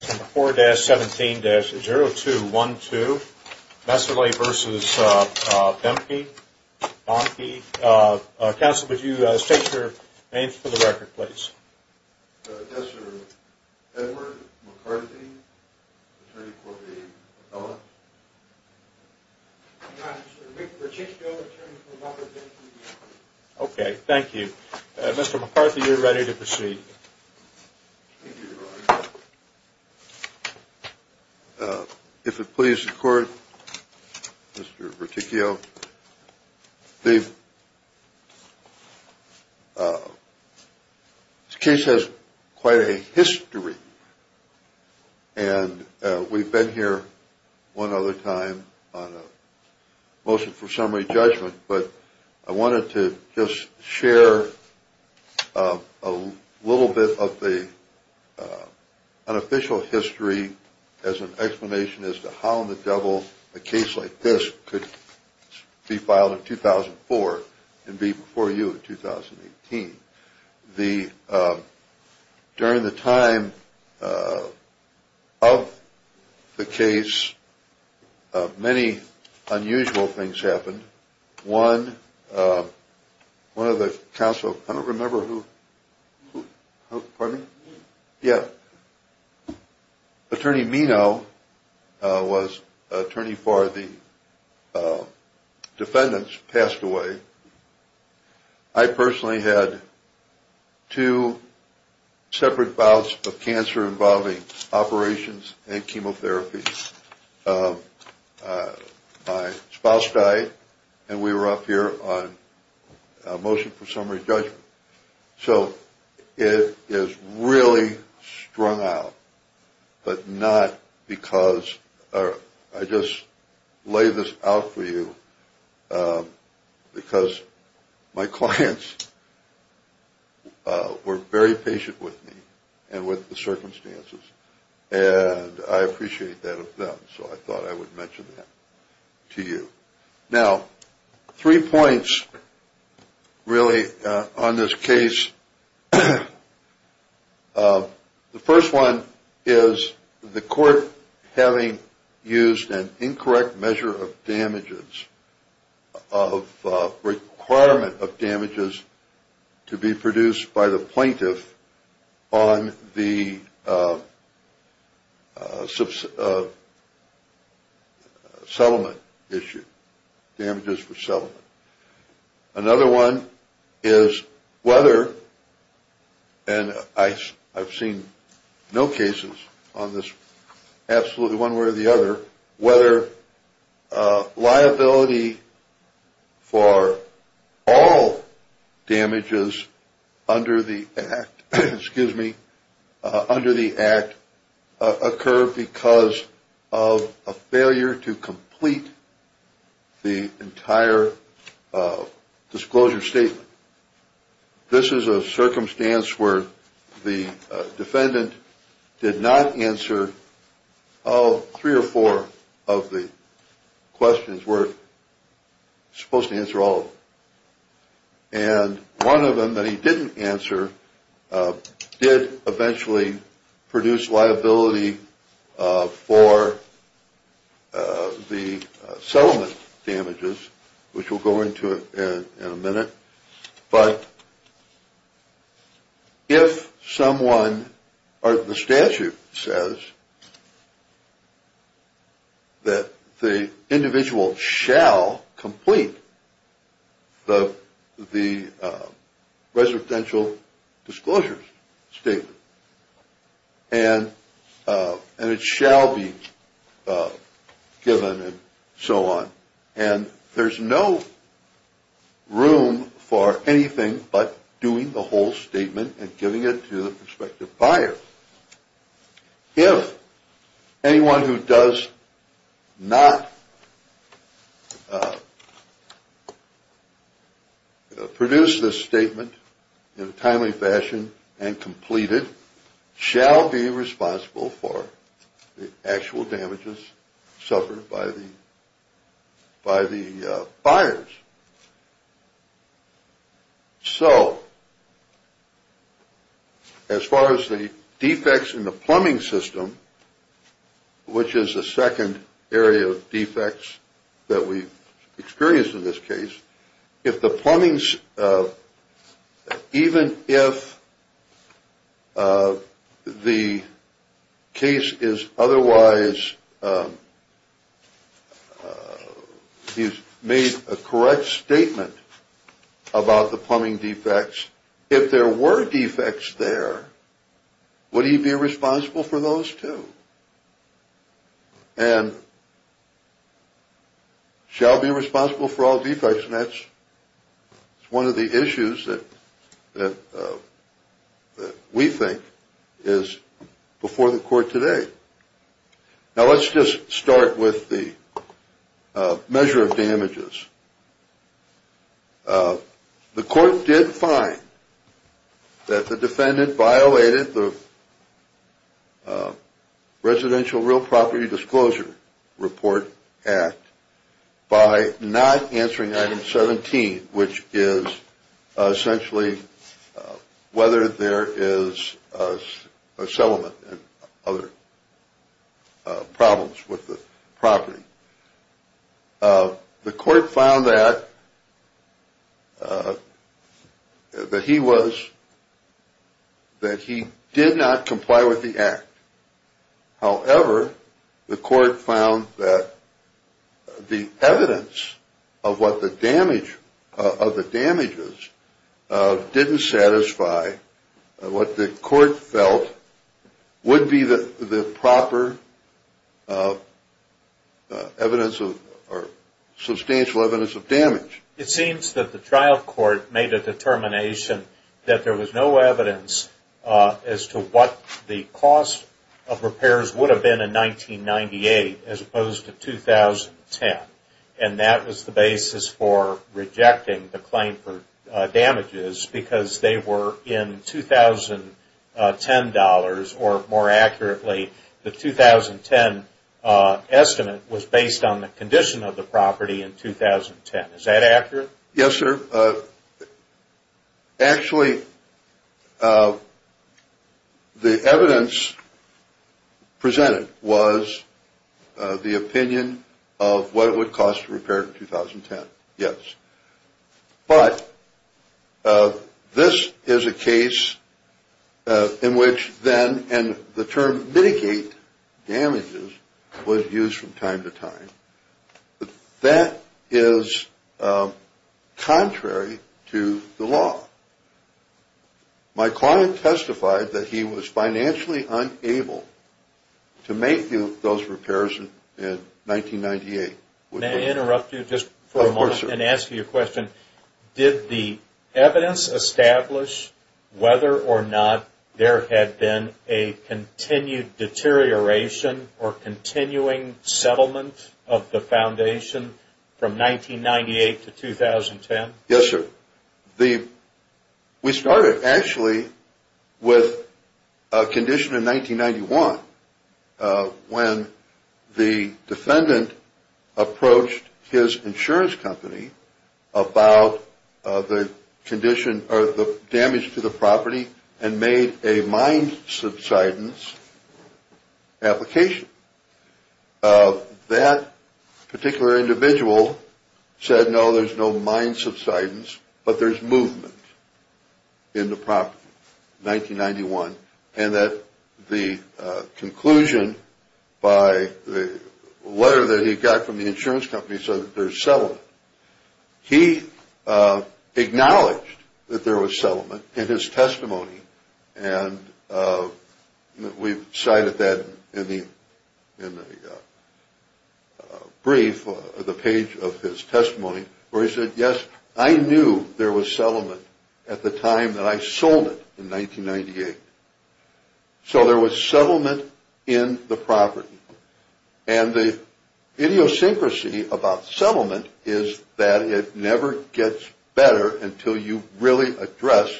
4-17-0212 Messerly v. Boehmke. Counsel, would you state your name for the record, please? Yes, sir. Edward McCarthy, attorney for the Boehmke. I'm not, sir. Rick Pacheco, attorney for Robert Boehmke. Okay, thank you. Mr. McCarthy, you're ready to proceed. If it pleases the court, Mr. Berticchio, the case has quite a history. And we've been here one other time on a motion for summary judgment. But I wanted to just share a little bit of the unofficial history as an explanation as to how in the devil a case like this could be filed in 2004 and be before you in 2018. During the time of the case, many unusual things happened. One, one of the counsel, I don't remember who, pardon me? Yeah. Attorney Minow was attorney for the defendants passed away. I personally had two separate bouts of cancer involving operations and chemotherapy. My spouse died and we were up here on a motion for summary judgment. So it is really strung out, but not because I just lay this out for you because my clients were very patient with me and with the circumstances. And I appreciate that of them. So I thought I would mention that to you. Now, three points really on this case. The first one is the court having used an incorrect measure of damages of requirement of damages to be produced by the plaintiff on the settlement issue, damages for settlement. Another one is whether and I've seen no cases on this. Absolutely. One way or the other, whether liability for all damages under the act, excuse me, under the act occur because of a failure to complete the entire disclosure statement. This is a circumstance where the defendant did not answer three or four of the questions were supposed to answer all. And one of them that he didn't answer did eventually produce liability for the settlement damages, which we'll go into in a minute. But if someone or the statute says that the individual shall complete the residential disclosures statement and it shall be given and so on. And there's no room for anything but doing the whole statement and giving it to the prospective buyer. If anyone who does not. Produce this statement in a timely fashion and completed shall be responsible for the actual damages suffered by the. By the buyers. So. As far as the defects in the plumbing system, which is the second area of defects that we experienced in this case, if the plumbing's even if the case is otherwise. He's made a correct statement about the plumbing defects. If there were defects there, would he be responsible for those two? And. Shall be responsible for all defects. That's one of the issues that we think is before the court today. Now, let's just start with the measure of damages. The court did find. That the defendant violated the. Residential Real Property Disclosure Report Act. By not answering item 17, which is essentially whether there is a settlement and other. Problems with the property. The court found that. That he was. That he did not comply with the act. However, the court found that. The evidence of what the damage of the damages. Didn't satisfy. What the court felt. Would be the proper. Evidence of. Substantial evidence of damage. It seems that the trial court made a determination. That there was no evidence. As to what the cost. Of repairs would have been in 1998 as opposed to 2010. And that was the basis for rejecting the claim for damages. Because they were in 2010 dollars. Or more accurately. The 2010 estimate was based on the condition of the property in 2010. Is that accurate? Yes, sir. Actually. The evidence. Presented was. The opinion of what it would cost to repair 2010. Yes. But. This is a case. In which then and the term mitigate. Damages would use from time to time. That is. Contrary to the law. My client testified that he was financially unable. To make those repairs. In 1998. May I interrupt you just for a moment. And ask you a question. Did the evidence establish. Whether or not there had been a continued deterioration. Or continuing settlement of the foundation. From 1998 to 2010. Yes, sir. The. We started actually. With. A condition in 1991. When. The defendant. Approached his insurance company. About. The condition or the damage to the property. And made a mind subsidence. Application. That. Particular individual. Said no, there's no mind subsidence. But there's movement. In the prop. 1991. And that. The conclusion. By the. Letter that he got from the insurance company. So there's. He. Acknowledged. That there was settlement. In his testimony. And. We cited that. In the. In the. Brief. The page of his testimony. Where he said yes. I knew there was settlement. At the time that I sold it. In 1998. So there was settlement. In the property. And the. Idiosyncrasy about settlement. Is that it never gets better. Until you really address.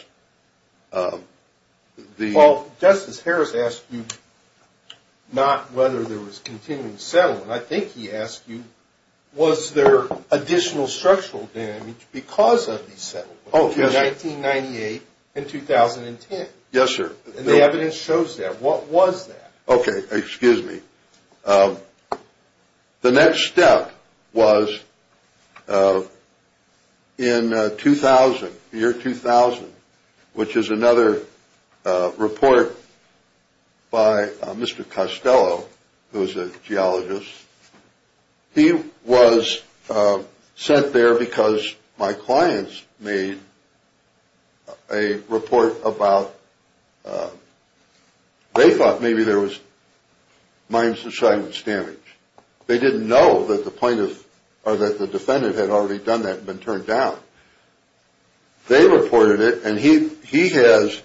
The. Justice Harris asked you. Not whether there was continuing settlement. I think he asked you. Was there additional structural damage. Because of the settlement. Oh yes. In 1998. In 2010. Yes sir. And the evidence shows that. What was that? Okay. Excuse me. The next step. Was. In 2000. Year 2000. Which is another. Report. By. Mr. Costello. Who is a geologist. He was. Sent there because. My clients made. A report about. They thought maybe there was. Mines and silence damage. They didn't know that the plaintiff. Or that the defendant had already done that. And been turned down. They reported it and he. He has.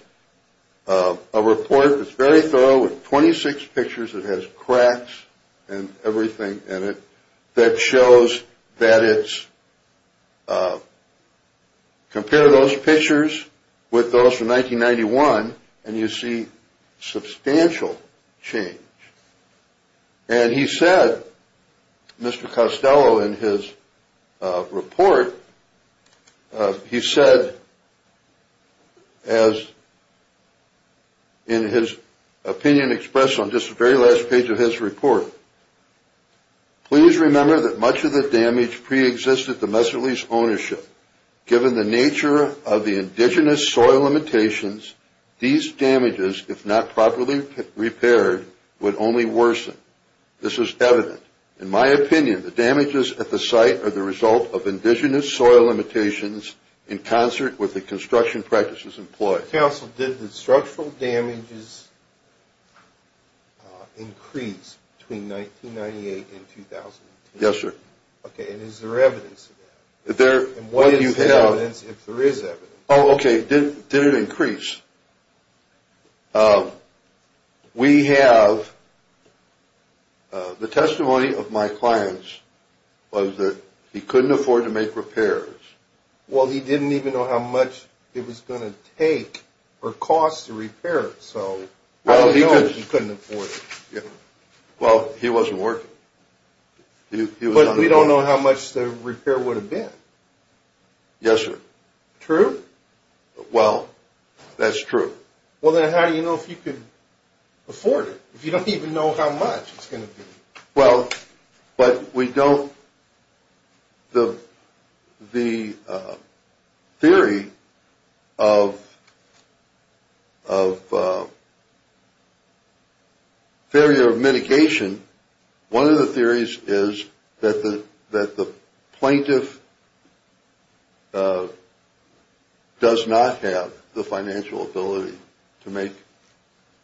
A report that's very thorough with 26 pictures. It has cracks. And everything in it. That shows. That it's. Compare those pictures. With those from 1991. And you see. Substantial. Change. And he said. Mr. Costello in his. Report. He said. As. In his. Opinion expressed on just the very last page of his report. Please remember that much of the damage pre-existed. Domestic lease ownership. Given the nature of the indigenous soil limitations. These damages. If not properly. Repaired. Would only worsen. This is evident. In my opinion. And the damages at the site. Are the result of indigenous soil limitations. In concert with the construction practices employed. Counsel did the structural damages. Increase. Between 1998 and 2000. Yes sir. Okay. And is there evidence. There. And what do you have. If there is evidence. Oh okay. Did it increase. We have. The testimony of my clients. Was that. He couldn't afford to make repairs. Well he didn't even know how much. It was going to take. Or cost to repair it so. Well he couldn't afford it. Yeah. Well he wasn't working. He was. We don't know how much the repair would have been. Yes sir. True. Well. That's true. Well then how do you know if you could. Afford it if you don't even know how much. It's going to be. Well. But we don't. The. The. Theory. Of. Of. Theory of mitigation. One of the theories is. That the plaintiff. Does not have the financial ability. To make.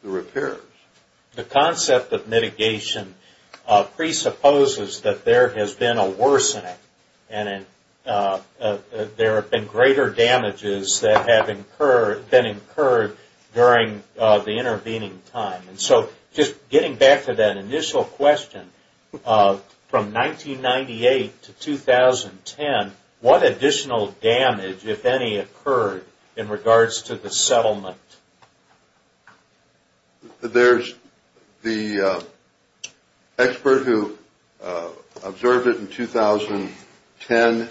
The repairs. The concept of mitigation. Presupposes that there has been a worsening. And. There have been greater damages. That have incurred. Been incurred. During. The intervening time. And so. Just getting back to that initial question. From 1998. To 2010. What additional damage. If any occurred. In regards to the settlement. There's. The. Expert who. Observed it in 2010.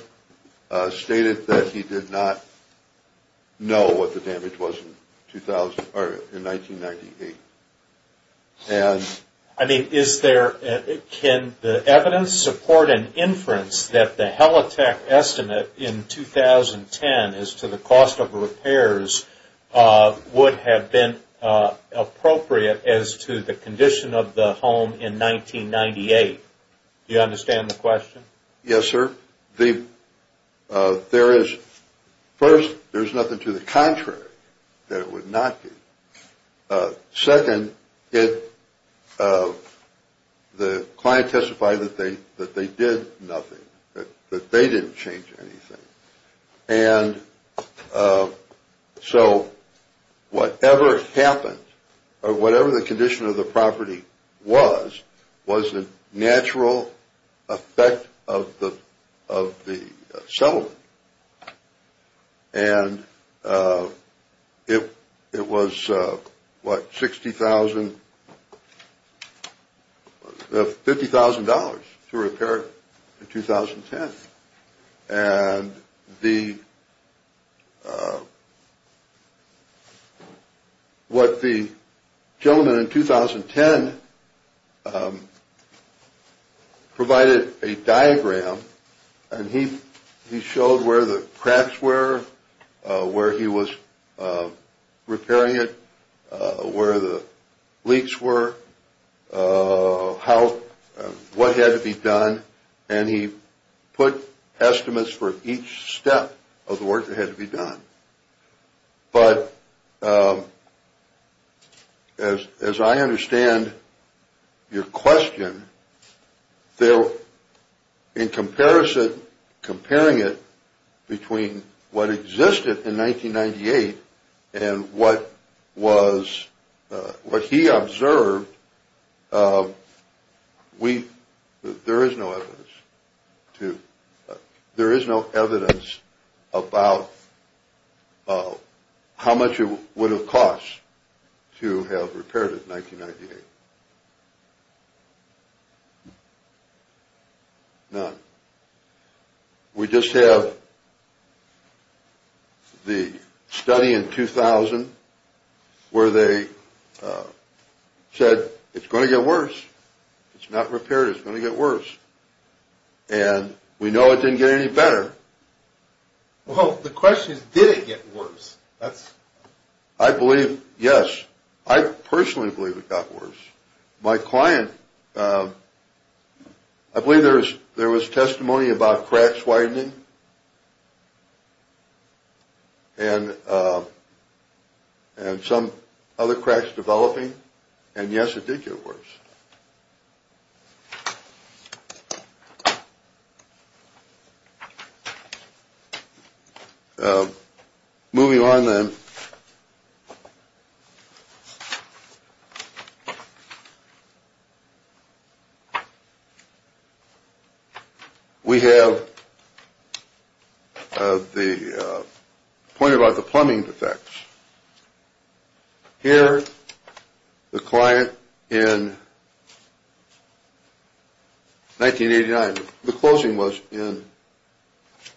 Stated that he did not. Know what the damage was. In 2000. Or in 1998. And. I mean. Is there. Can the evidence. Support an inference. That the helitech estimate. In 2010. Is to the cost of repairs. Would have been. Appropriate. As to the condition of the home. In 1998. Do you understand the question. Yes sir. The. There is. First. There's nothing to the contrary. That it would not be. Second. It. The client testified that they. That they did nothing. But they didn't change anything. And. So. Whatever. Happened. Or whatever the condition of the property. Was. Was the natural. Effect. Of the. Of the. Settlement. And. It. It was. What 60,000. $50,000. To repair. In 2010. And. The. What the. Gentlemen in 2010. Provided. A diagram. And he. He showed where the cracks were. Where he was. Repairing it. Where the. Leaks were. How. What had to be done. And he. Put. Estimates for each step. Of the work that had to be done. But. As as I understand. Your question. They're. In comparison. Comparing it. Between what existed in 1998. And what was. What he observed. We there is no evidence. To. There is no evidence. About. How much it would have cost. To have repaired it 1998. No. We just have. The study in 2000. Where they. Said it's going to get worse. It's not repaired it's going to get worse. And we know it didn't get any better. Well the question is did it get worse. That's. I believe yes. I personally believe it got worse. My client. I believe there is. There was testimony about cracks widening. And. And some. Other cracks developing. And yes it did get worse. Yes. Moving on then. We have. The point about the plumbing defects. Here. The client in. 1989 the closing was in.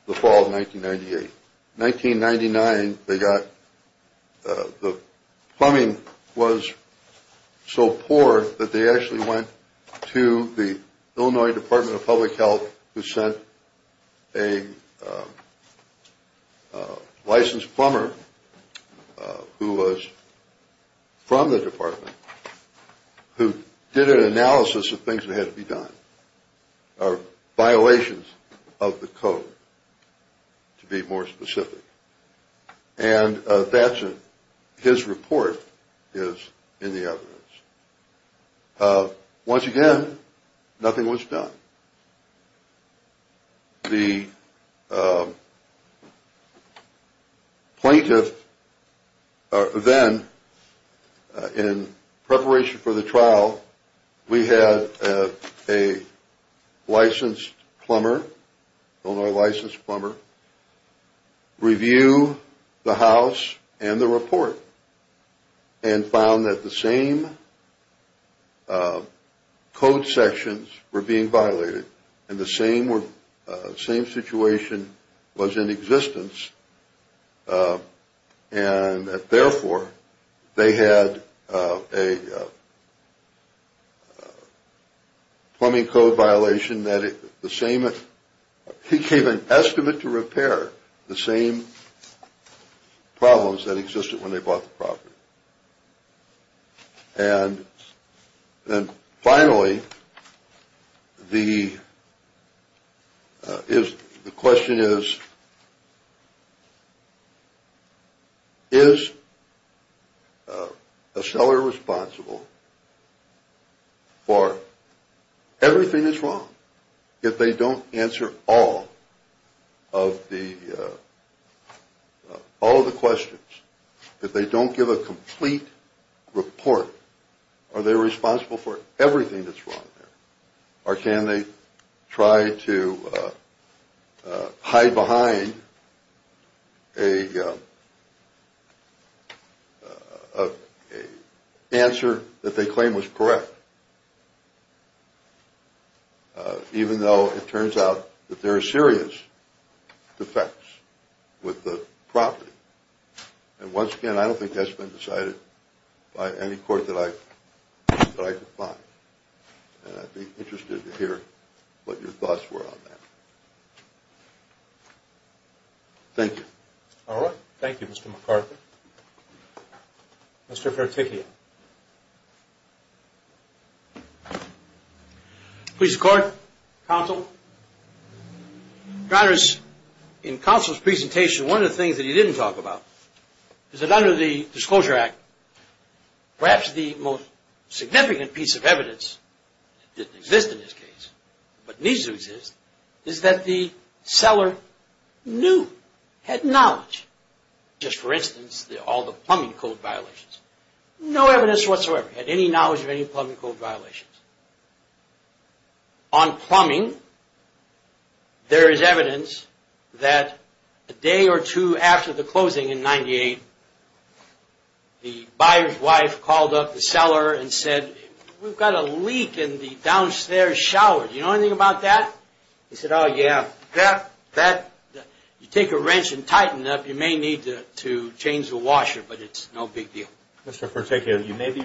The fall of 1998. 1999 they got. The plumbing was. So poor that they actually went. To the Illinois Department of Public Health. Who said. A. Licensed plumber. Who was. From the department. Who did an analysis of things that had to be done. Or violations. Of the code. To be more specific. And that's. His report. Is in the evidence. Once again. Nothing was done. The. Plaintiff. Then. In preparation for the trial. We had a. Licensed plumber. Illinois licensed plumber. Review. The house and the report. And found that the same. Code sections were being violated. And the same were. Violation was in existence. And therefore. They had a. Plumbing code violation that the same. He gave an estimate to repair the same. Problems that existed when they bought the property. And. And finally. The. Is the question is. Is. A seller responsible. For everything is wrong. If they don't answer all. Of the. All the questions. If they don't give a complete. Report. Are they responsible for everything that's wrong. Or can they. Try to. Hide behind. A. Answer that they claim was correct. Even though it turns out that there are serious. Effects. With the property. And once again I don't think that's been decided. By any court that I. And I'd be interested to hear. What your thoughts were on that. Thank you. All right. Thank you. Mr. Mr. Please. Court. Counsel. Dr. In counsel's presentation. One of the things that he didn't talk about. Is it under the disclosure act. Perhaps the. Most. Significant piece of evidence. That exists in this case. But needs to exist. Is that the. Seller. Knew. Had knowledge. Just for instance. All the plumbing code violations. No evidence whatsoever. Had any knowledge of any plumbing code violations. On plumbing. There is evidence. That. A day or two after the closing in 98. The buyer's wife called up the seller. And said. We've got a leak in the downstairs shower. You know anything about that. He said. Oh yeah. That. You take a wrench and tighten it up. You may need to change the washer. But it's no big deal. Mr. You may be.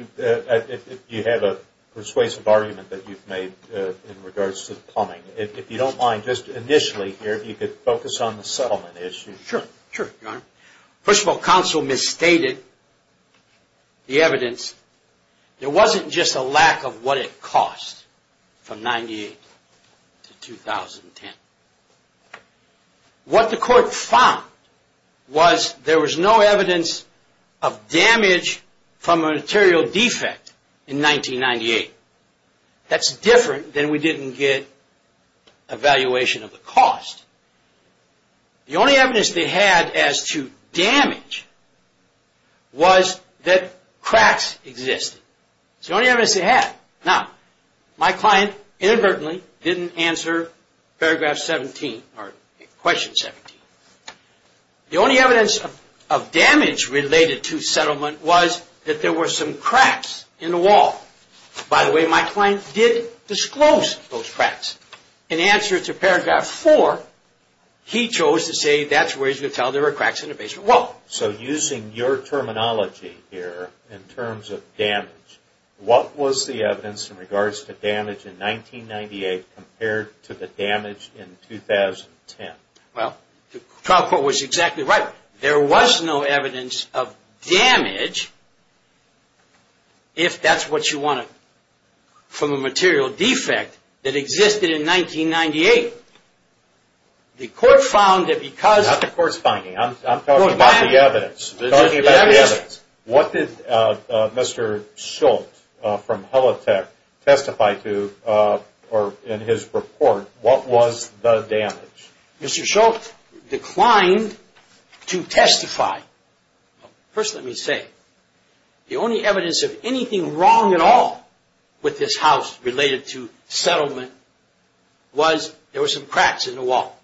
You have a persuasive argument. That you've made. In regards to plumbing. If you don't mind. Just initially here. If you could focus on the settlement issue. Sure. Sure. First of all. Council misstated. The evidence. There wasn't just a lack of what it cost. From 98. To 2010. What the court found. Was there was no evidence. Of damage. From a material defect. In 1998. That's different than we didn't get. Evaluation of the cost. The only evidence they had. As to damage. Was. That. Cracks. Exist. The only evidence they had. Now. My client. Inadvertently. Didn't answer. Paragraph 17. Or. Question 17. The only evidence. Of damage. Related to settlement. Was. That there were some cracks. In the wall. By the way. My client. Did disclose. Those cracks. In answer. To paragraph. Four. He chose. To say. That's where you tell. There are cracks. In the basement. Well. So using your terminology. Here. In terms of damage. What was the evidence. In regards to damage. In 1998. Compared. To the damage. In 2010. Well. The trial court. Was exactly right. There was no evidence. Of damage. If that's what you want. From a material defect. That existed in 1998. The court found. That because. Not the courts finding. I'm talking about the evidence. I'm talking about the evidence. What did. Mr. Schultz. From Helitech. Testify to. Or. In his report. What was the damage. Mr. Schultz. Declined. To testify. First let me say. The only evidence. Of anything wrong at all. With this house. Related to. This settlement. Was. There was some cracks in the wall.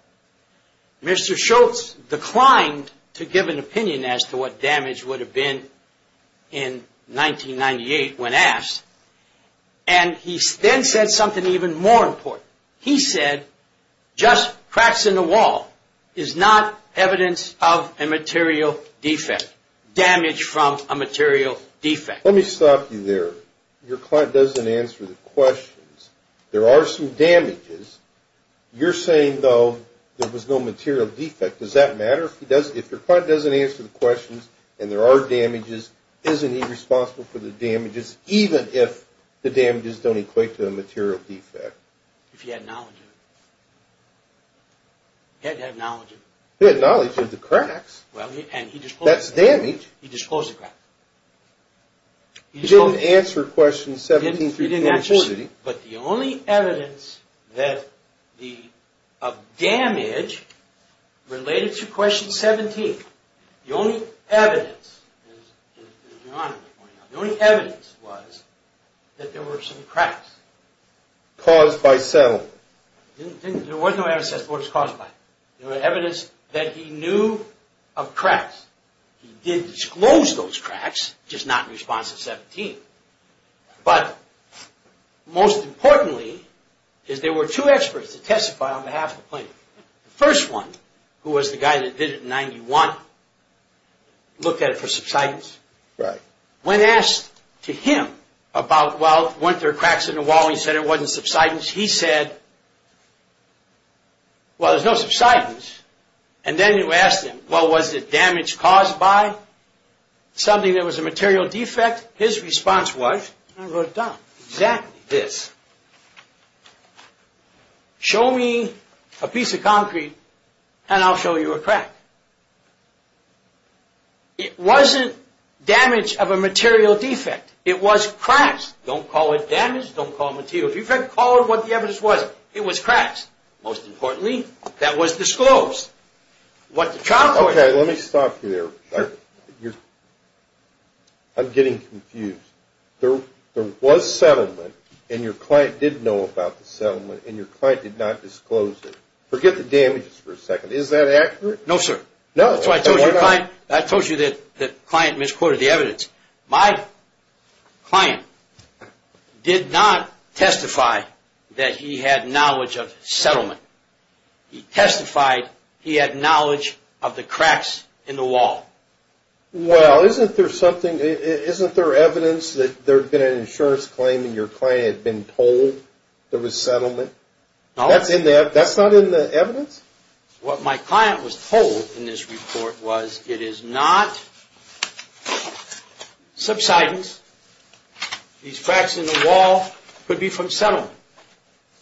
Mr. Schultz. Declined. To give an opinion. As to what damage would have been. In 1998. When asked. And he. Then said something even more important. He said. Just. Cracks in the wall. Is not. Evidence. Of a material. Defect. Damage from. A material. Defect. Let me stop you there. Your client doesn't answer. The questions. There are some. Damages. You're saying though. There was no material. Defect. Does that matter. If he does. If your client doesn't answer. The questions. And there are damages. Isn't he responsible. For the damages. Even if. The damages. Don't equate to a material. Defect. If he had knowledge. He had to have knowledge. He had knowledge. Of the cracks. Well. And he disclosed. That's damage. He disclosed the cracks. He disclosed. He didn't answer. Questions. 1734. He didn't answer. But the only. Evidence. That. The. Of damage. Related. To question. 17. The only. Evidence. The only. Evidence. Was. That there were some. Cracks. Caused. By. Cell. There was no evidence. That it was caused by. There was evidence. That he knew. Of cracks. He did disclose. Those cracks. Just not in response. To 17. But. Most. Importantly. Is. There were two experts. That testified. On behalf. Of the plaintiff. The first one. Who was the guy. That did it in. Ninety. One. Looked at it. For subsidence. Right. When asked. To him. About. Well. Weren't there. Cracks in the wall. He said. It wasn't subsidence. He said. Well. There's no subsidence. And then. You asked him. Well. Was it damage. Caused by. Something. That was a material defect. His response was. I wrote down. Exactly. This. Show me. A piece of concrete. And I'll show you a crack. It wasn't. Damage. Of a material defect. It was. Cracks. Don't call it damage. Don't call it material defect. Call it what the evidence was. It was cracks. Most importantly. That was disclosed. What the trial court. Okay. Let me stop you there. Sure. You're. I'm getting. Confused. There. Was settlement. And your client. Did know about the settlement. And your client. Did not disclose it. Forget the damages. For a second. Is that accurate. No sir. No. That's why I told you. Fine. I told you that. The client misquoted. The evidence. My. Client. Did not. Testify. That he had knowledge. Of settlement. He testified. He had knowledge. Of the cracks. In the wall. Well. Isn't there something. Isn't there evidence. That there. Been an insurance claim. And your client. Had been told. There was settlement. No. That's in there. That's not in the evidence. What my client. Was told. In this report. Was. It is not. Subsidence. These cracks. In the wall. Could be from settlement.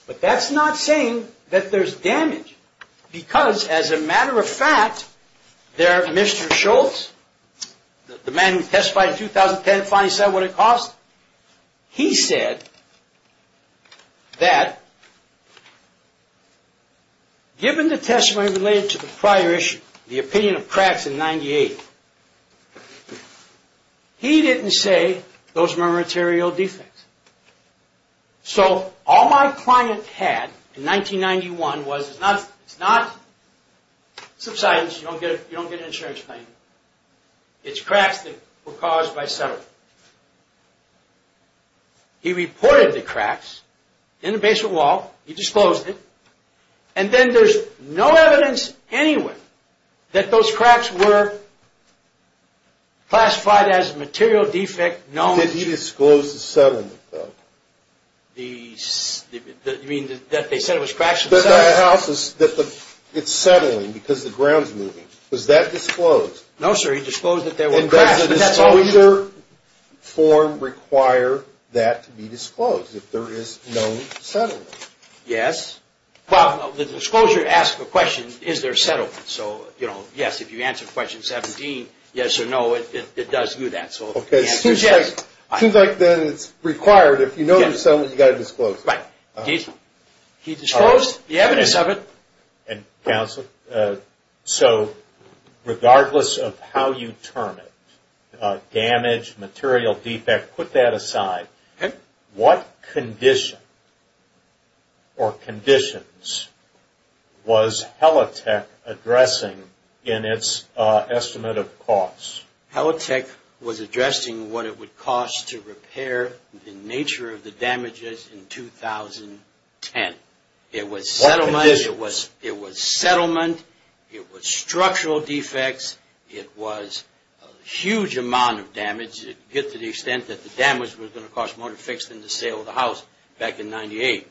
But that's not. Saying. That there's damage. Because. As a matter. Of fact. There. Mr. Schultz. The man. Who testified. In 2010. Finally said. What it cost. He said. That. Given. The testimony. Related. To the prior. Issue. The opinion. Of cracks. In 98. He didn't. Say. Those are. My material. Defects. So. All my. Client. Had. In 1991. Was. It's not. Subsidence. You don't get. An insurance claim. It's cracks. That were caused. By settlement. He reported. The cracks. In the basement wall. He disclosed it. And then. There's. No evidence. Anywhere. That those cracks. Were. Classified. As material. Defect. No. He disclosed. The settlement. The. You mean. That they said. It was. Cracks. The house. Is. That the. It's settling. Because the grounds. Moving. Was that disclosed. No. Sir. He disclosed. That there were. Disclosure. Form. Require. That. To be disclosed. If there is. No settlement. Yes. Well. The disclosure. Asks a question. Is there settlement. So. You know. Yes. If you answer. Question 17. Yes or no. It does do that. So. Okay. Seems like. Seems like. Then it's. Required. If you know. The settlement. You got to disclose. Right. He disclosed. The evidence of it. And. Counsel. So. Regardless. Of how you term it. Damage. Material. Defect. Put that aside. Okay. What condition. Or conditions. Was. Helitech. Addressing. In its. Estimate. Of costs. Helitech. Was addressing. What it would cost. To repair. The nature. Of the damages. In 2010. It was settlement. What conditions. It was settlement. It was structural defects. It was. A huge amount. Of damage. To get to the extent. That the damage. Was going to cost more. To fix. Than the sale. Of the house. Back in 98.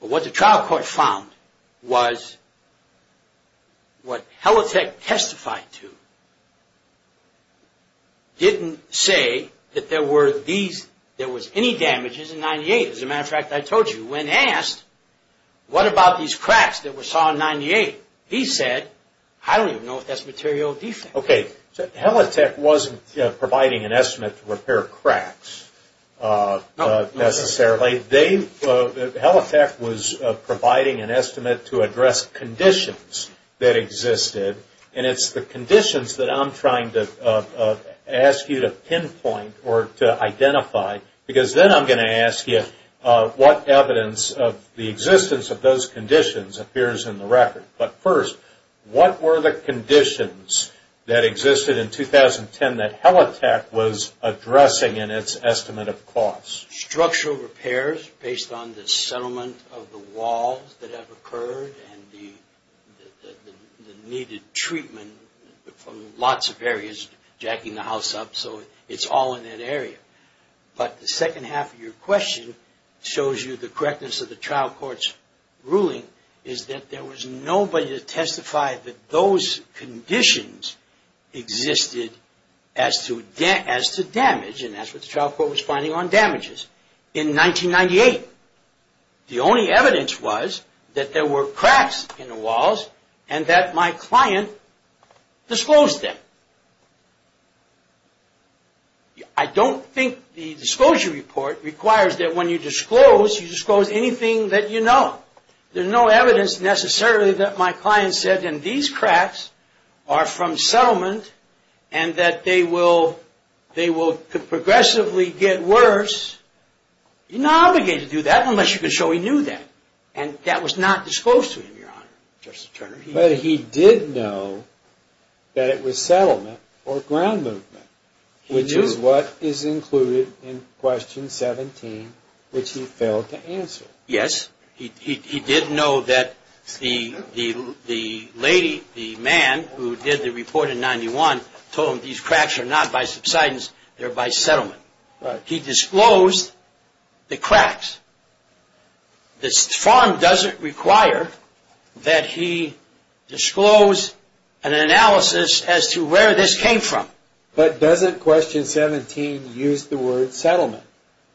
But. What the trial. Court found. Was. What. Helitech. Testified. To. Didn't. Say. That there were. These. There was. Any damages. In 98. As a matter of fact. I told you. When asked. What about these cracks. That we saw in 98. He said. I don't even know. If that's material. Defect. Okay. Helitech. Wasn't. Providing an estimate. To repair. Cracks. Necessarily. They. Helitech. Was providing. An estimate. To address. Conditions. That existed. And. It's the conditions. That I'm trying to. Ask you. To pinpoint. Or. To identify. Because then. I'm going to ask you. What evidence. Of the existence. Of those conditions. Appears in the record. But. First. What were the conditions. That existed. In 2010. That Helitech. Was addressing. In its estimate. Of costs. Structural repairs. Based on the settlement. Of the walls. That have occurred. And. The. Needed. Treatment. From. Lots of areas. Jacking the house up. So. It's all in that area. But. The second half. Of your question. Shows you. The correctness. Of the trial court's. Ruling. Is that. There was nobody. To testify. That those. Conditions. Existed. As to. Damage. And that's what the trial court. Was finding on damages. In 1998. The only evidence. Was. That there were cracks. In the walls. And that my client. Disclosed them. I don't think. The disclosure report. Requires that when you disclose. You disclose anything. That you know. There's no evidence. Necessarily. That my client said. In these cracks. Are from settlement. And that they will. He knew that. And that was. The only evidence. That my client. Disclosed them. I don't think. The disclosure report. Requires that when you disclose. And that was not. Disclosed to him. Your honor. Justice Turner. But he did know. That it was settlement. Or ground movement. Which is what. Is included. In question 17. Which he failed to answer. Yes. He did know that. The lady. The man. Who did the report. They're by settlement. Right. He disclosed. The cracks. The farm. Doesn't. Disclose. The cracks. The farm. Doesn't. Require. That he. Disclose. An analysis. As to where. This came from. But doesn't question. 17. Use the word. Settlement.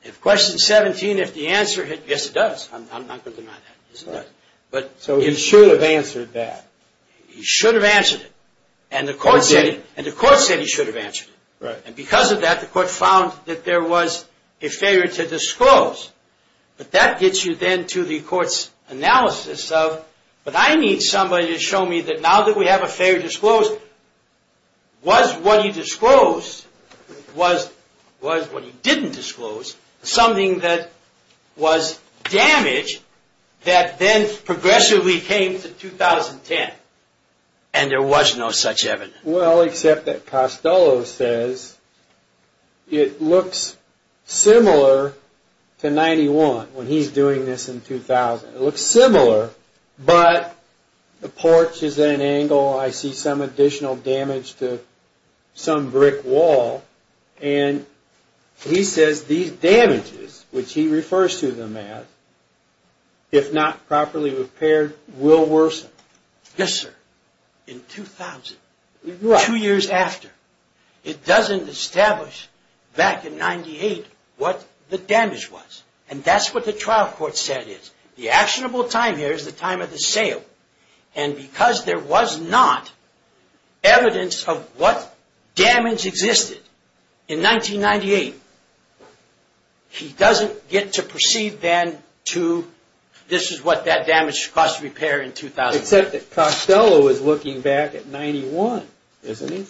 If question. 17. If the answer. Yes it does. I'm not going to deny that. But. So he should have. Answered that. He should have. Answered it. And the court. Said it. And the court. Said he should have. Answered it. Right. And because of that. The court found. That there was. A failure. To disclose. But that gets you. Then to the court's. Analysis. Of. But I need somebody. To show me. That now that we have. A failure. To disclose. Was what he disclosed. Was. Was what he. Didn't disclose. Something that. Was. Damaged. That then. Progressively. Came to. 2010. And there was. No such evidence. Well. Except that. Costello. Says. It looks. Similar. To. 91. When he's doing this. In 2000. It looks similar. But. The porch. Is at an angle. I see some additional. Damage to. Some brick. Wall. And. He says. These damages. Which he refers. To them as. If not. Properly. Repaired. Will worsen. Yes sir. In 2000. Right. Two years after. It doesn't. Establish. Back in. 1998. What. The damage. Was. And that's. What the trial. Court said. Is the actionable. Time here. Is the time. Of the sale. And because. There was not. Evidence. Of what. Damage. Existed. In 1998. He doesn't. Get to proceed. Then to. This is what. That damage. Cost repair. In 2000. Except that. Costello. Is looking. Back at. 1991. Isn't it.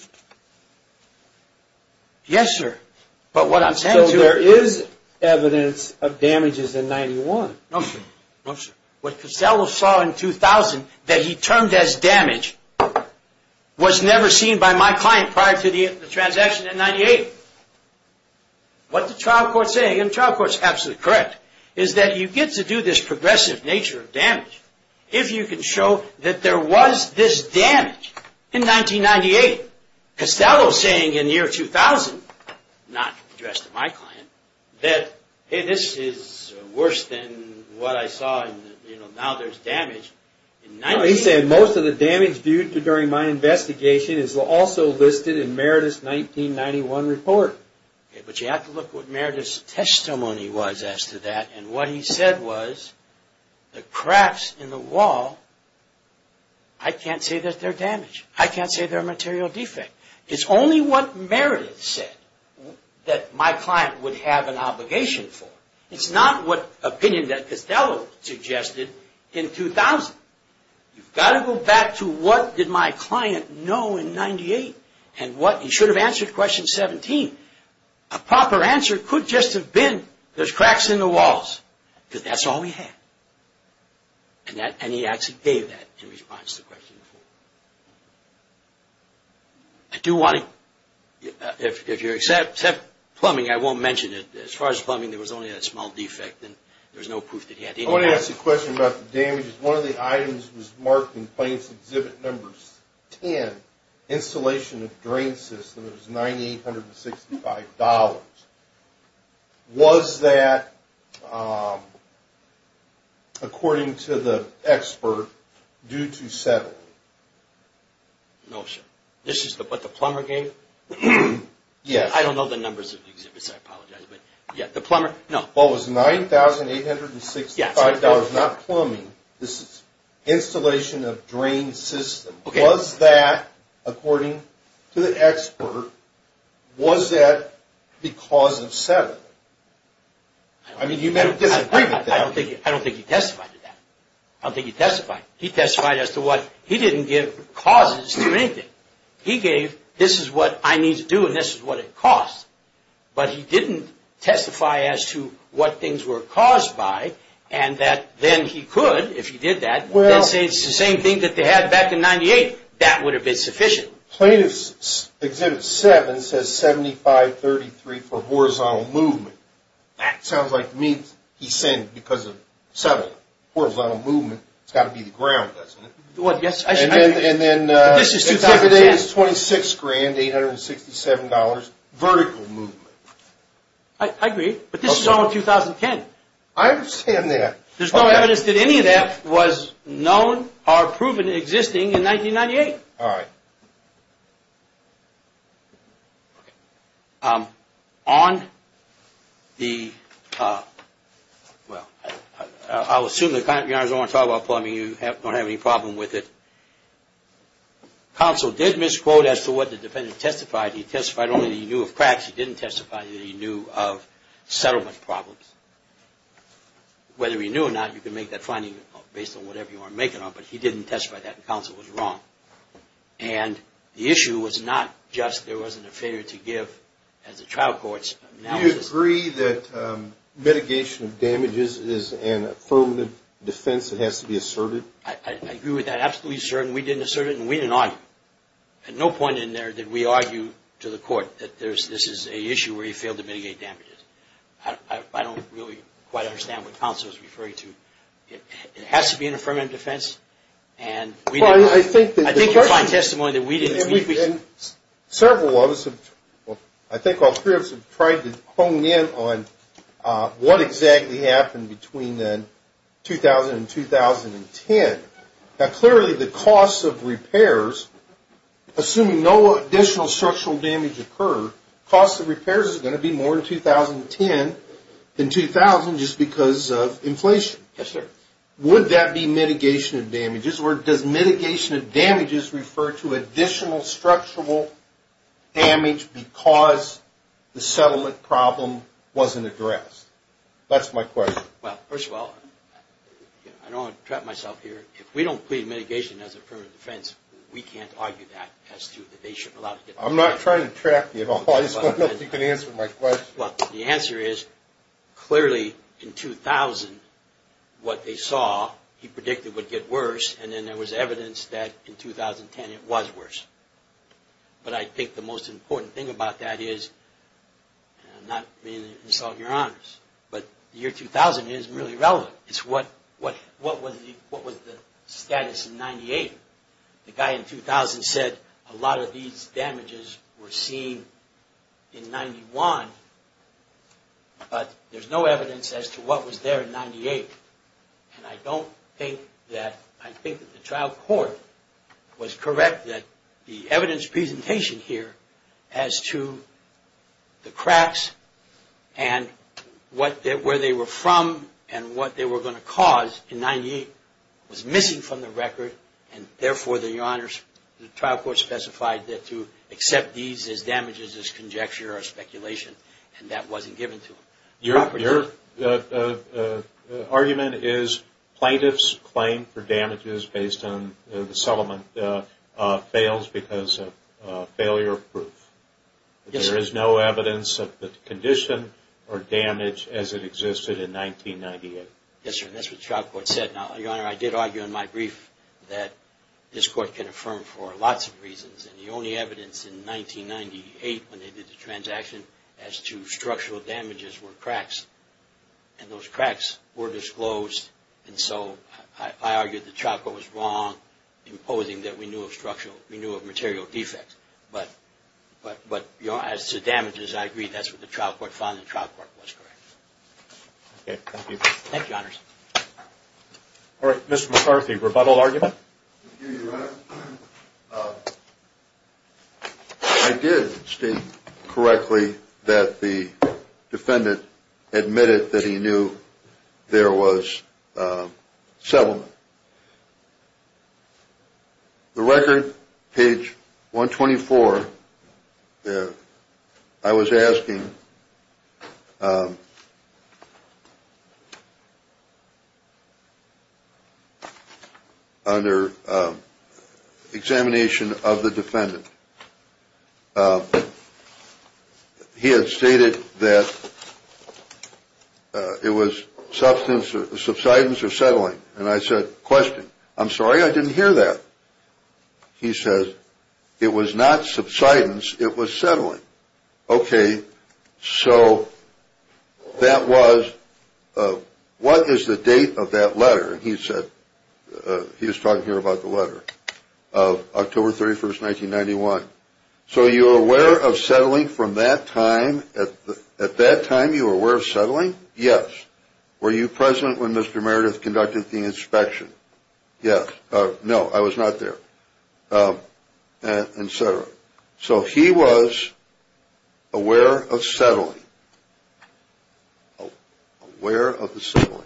Yes sir. But what I'm. Saying to. There is. Evidence. Of damages. In 91. No sir. No sir. What. Costello saw. In 2000. That he turned. As damage. Was never seen. By my client. Prior to the. Transaction. In 98. What the trial. Court say. In trial. Court's. Absolutely correct. Is that you get. To do this. Progressive nature. Of damage. If you can show. That there was. This. Damage. In 1998. Costello saying. In year 2000. Not addressed. To my client. That. Hey this is. Worse than. What I saw. In you know. Now there's damage. In 98. He said. Most of the damage. Due to during my investigation. Is also listed. In Meredith's. 1991 report. Okay. But you have to look. What Meredith's. Testimony was. As to that. And what he said. Was. The cracks. In the wall. I can't. Say that. They're damaged. I can't say. They're material defect. It's only. What Meredith's. Said. That my client. Would have an obligation. For. It's not what. Opinion. That Costello. Suggested. In 2000. You've got to go. Back to what. Did my client. Know in 98. And what. He should have answered. Question 17. A proper answer. Could just have been. There's cracks. In the walls. But that's all. We had. And that. And he actually. Gave that. In response. To the question. I do want. If you're. Except. Except. Plumbing. I won't mention it. As far as plumbing. There was only. A small defect. And there was no proof. That he had. I want to ask you a question. About the damages. One of the items. Was marked in. Plains exhibit. Numbers. 10. Installation. Of drain system. It was 98. 865. Dollars. Was that. According to the. Expert. Due to. Settle. Notion. This is the. But the plumber. Gave. Yes. I don't know. The numbers. Of the exhibits. I apologize. But yeah. The plumber. No. What was. 9865. Dollars. Not plumbing. This is. Installation. Of drain system. Was that. According. To the expert. Was that. Because of. Seven. I mean. I don't think. I don't think. He testified. To that. I don't think. He testified. He testified. As to what. He didn't give. Causes. To anything. He gave. This is what. I need. To do. And this is what. It costs. But he didn't. Testify. As to. What things were. Caused by. And that. Then he could. If he did that. Well. It's the same thing. That they had. Back in 98. That would have. Been sufficient. Plaintiffs. Exhibit. Seven. Says. 7533. For horizontal. Movement. That sounds like. Means. He's saying. Because of. Seven. Horizontal. Movement. It's got to be. The ground. Doesn't it. What. Yes. I. And then. And then. This is. It is. 26 grand. Eight hundred. Sixty seven dollars. Vertical. Movement. I agree. But this is all. In 2010. I understand that. There's no evidence. That any of that. Was known. Or proven. Existing. In 1998. All right. On. The. Well. I'll. Assume. That. I don't want. To talk about. Plumbing. You have. Don't have any. Problem with it. Counsel. Did misquote. As to what. The defendant. Testified. He testified. Only. He knew. Of cracks. He didn't testify. That he knew. Of settlement. Problems. Whether. He knew. Or not. You can make. That finding. Based on whatever. You are making. On. But he didn't testify. That counsel. Was wrong. And. The issue. Was not. Just. There wasn't. A failure. To give. As a trial. Courts. Now. You agree. That. Mitigation. Of damages. Is an. Affirmative. Defense. It has to be asserted. I agree. With that. Absolutely certain. We didn't assert it. And we didn't argue. At no point. In there. Did we argue. To the court. That there's. This is a issue. Where he failed. To mitigate damages. I don't. Really. Quite understand. What counsel. Is referring to. It has to be an. Affirmative. Defense. And. We. I think. The testimony. That we didn't. Several. Of us. Have. Well. I think. All three. Of us. Have tried. To hone in. On. What exactly. Happened. Between then. 2000. And 2010. Now. Clearly. The cost. Of repairs. Assuming. No. Additional. Structural. Damage. Occurred. Cost of repairs. Is going to be. More than. 2010. In 2000. Just because. Of inflation. Yes sir. Would that be mitigation. Of damages. Or does mitigation. Of damages. Refer to additional. Structural. Damage. Because. The settlement. Problem. Wasn't addressed. That's my question. Well. First of all. I don't. Believe mitigation. As a permanent. Defense. We can't argue that. As to. That they should allow. I'm not trying to. Trap you. At all. I just want to know. If you can answer. My question. Well. The answer is. Clearly. In 2000. What they saw. He predicted. Would get worse. And then. There was evidence. That in 2010. It was worse. But I think. The most important thing. About that is. I'm not. Insulting your. Honors. But. Year 2000. Is really relevant. It's what. What. What was the. What was the. Status. In 98. The guy in 2000. Said. A lot of these. Damages. Were seen. In 91. But. There's no evidence. As to what was there. In 98. And I don't. Think that. I think. The trial court. Was correct. That the evidence. Presentation here. As to. The cracks. And. What. Where they were. From. And what they were. Going to cause. In 98. Was missing from the record. And therefore. The honors. The trial court specified. That to. Accept these. As damages. As conjecture. Or speculation. And that wasn't given. To him. Your. Argument. Is. Plaintiff's. Claim. For damages. Based on. The settlement. Fails. Because of. Failure. Proof. Yes. There is no evidence. Of the. Condition. Or damage. As it existed. In 98. Yes sir. That's what the trial court said. Now. Your honor. I did argue in my brief. That. This court can affirm. For lots of reasons. And the only evidence. In 98. When they did the transaction. As to structural. Damages. Were cracks. And those cracks. Were disclosed. And so. I argued. The trial court was wrong. Imposing. That we knew of structural. We knew of material defects. But. But. But. You know. As to damages. I agree. That's what the trial court found. The trial court was correct. Okay. Thank you. Thank you. All right. Mr. McCarthy. Rebuttal argument. I did state. Correctly. That the. Defendant. Admitted. That he knew. There was. Settlement. The record. Page. 129. Before. I was asking. Under. Examination of the defendant. He had stated that. It was substance. Subsidence or settling. And I said. Question. I'm sorry. I didn't hear that. He says. It was not subsidence. It was settling. Okay. So. That was. What is the date of that letter? He said. He was talking here about the letter. Of October 31st. 1991. So you are aware of settling from that time. At that time. You were aware of settling. Yes. Were you present when Mr. Meredith conducted the inspection? Yes. No. I was not there. And so. So he was. Aware of settling. Where. Mr.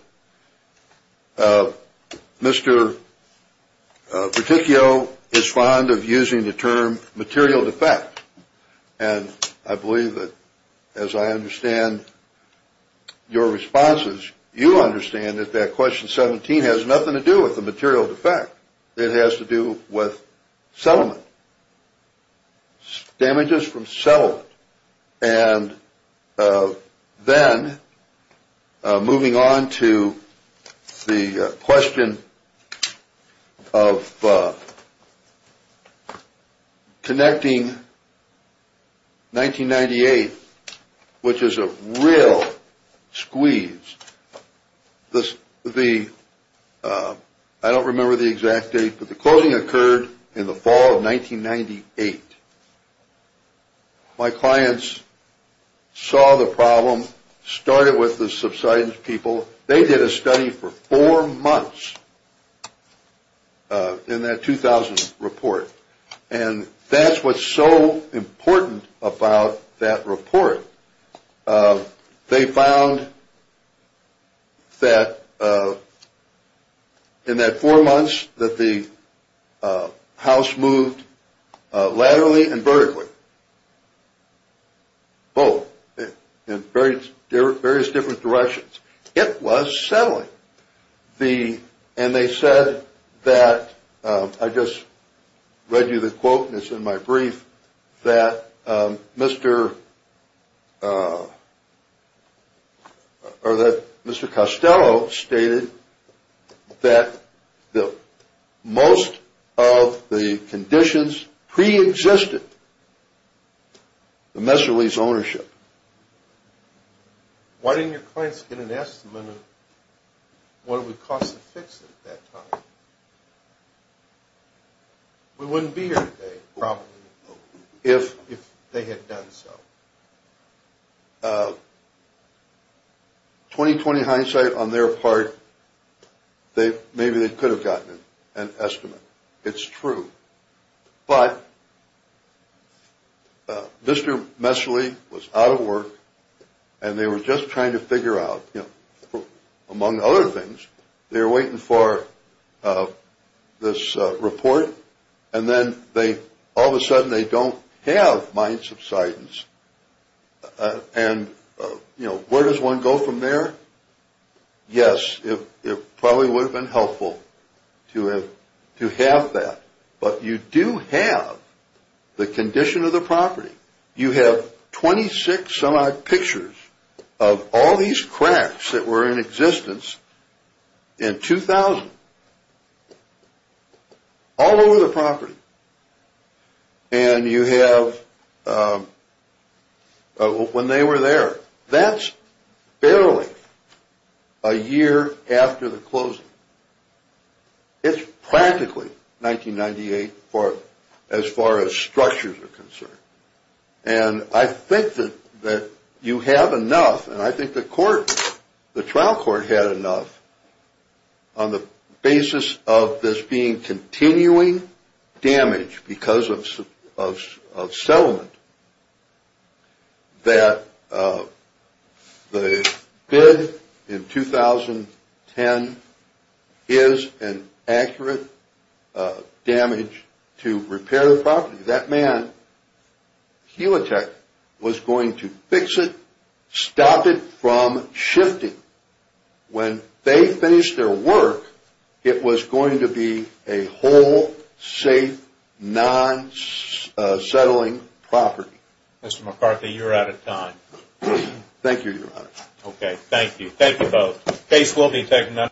Particulo. Is fond of using the term. Material defect. And I believe that. As I understand. Your responses. With. With. With. With. With. With. With. With. With. With. With. With. With. With. With. With. With. With. With. Damages from. Self. and. Then. Moving. On. The question. Of. Connecting. 1998. Which is a real squeeze. The the. I don't remember the exact date. But the closing occurred in the fall of 1998. My clients. Saw the problem. Started with the subsidence people. They did a study for four months. In that 2000 report. And that's what's so important about that report. They found. That. In that four months. That the. House moved. Laterally and vertically. Both. In various different directions. It was settling. The. And they said. That. I just. Read you the quote. And it's in my brief. That. Mr. Or. That. Mr. Costello. Stated. That. The. Most. Of. The. Conditions. Pre-existed. The. Messerly. Ownership. Why didn't your. Clients. Get an estimate. Of. What it would cost. To fix it. At that time. We wouldn't. Be here. Today. Probably. If. If. They had done so. Of. 20. 20. Hindsight. On their part. They. Maybe. They could have gotten. An estimate. It's true. But. Mr. Messerly. Was out of work. And they were just trying to figure out. You know. Among other things. They're waiting for. Of. This. Report. And then. They. All of a sudden. They don't. Have. Mind subsidence. And. You know. Where does one. Go from there. Yes. If. It probably. Would have been helpful. To have. To have that. But you do. Have. The condition of the property. You have. 26. Some odd. Pictures. Of. All these cracks. That were in existence. In 2000. All over. The property. And. You have. A year. After the closing. It's practically. 1998. For. As far as structures. Are concerned. And. I think. That. You have enough. And I think. The court. The trial court. Had enough. On the. Basis. Of. This being. Continuing. Damage. Because of. Of. Of. Several. That. Of. The. Bid. In. 2010. Is. An. Accurate. Damage. To. Repair. The property. That man. He. Was going to. Fix it. Stop it. From. Shifting. When. They. Finished their work. It was going to be. A whole. Safe. Non. Settling. The. Property. Mr. McCarthy. You're out of time. Thank you your honor. Okay. Thank you. Thank you both.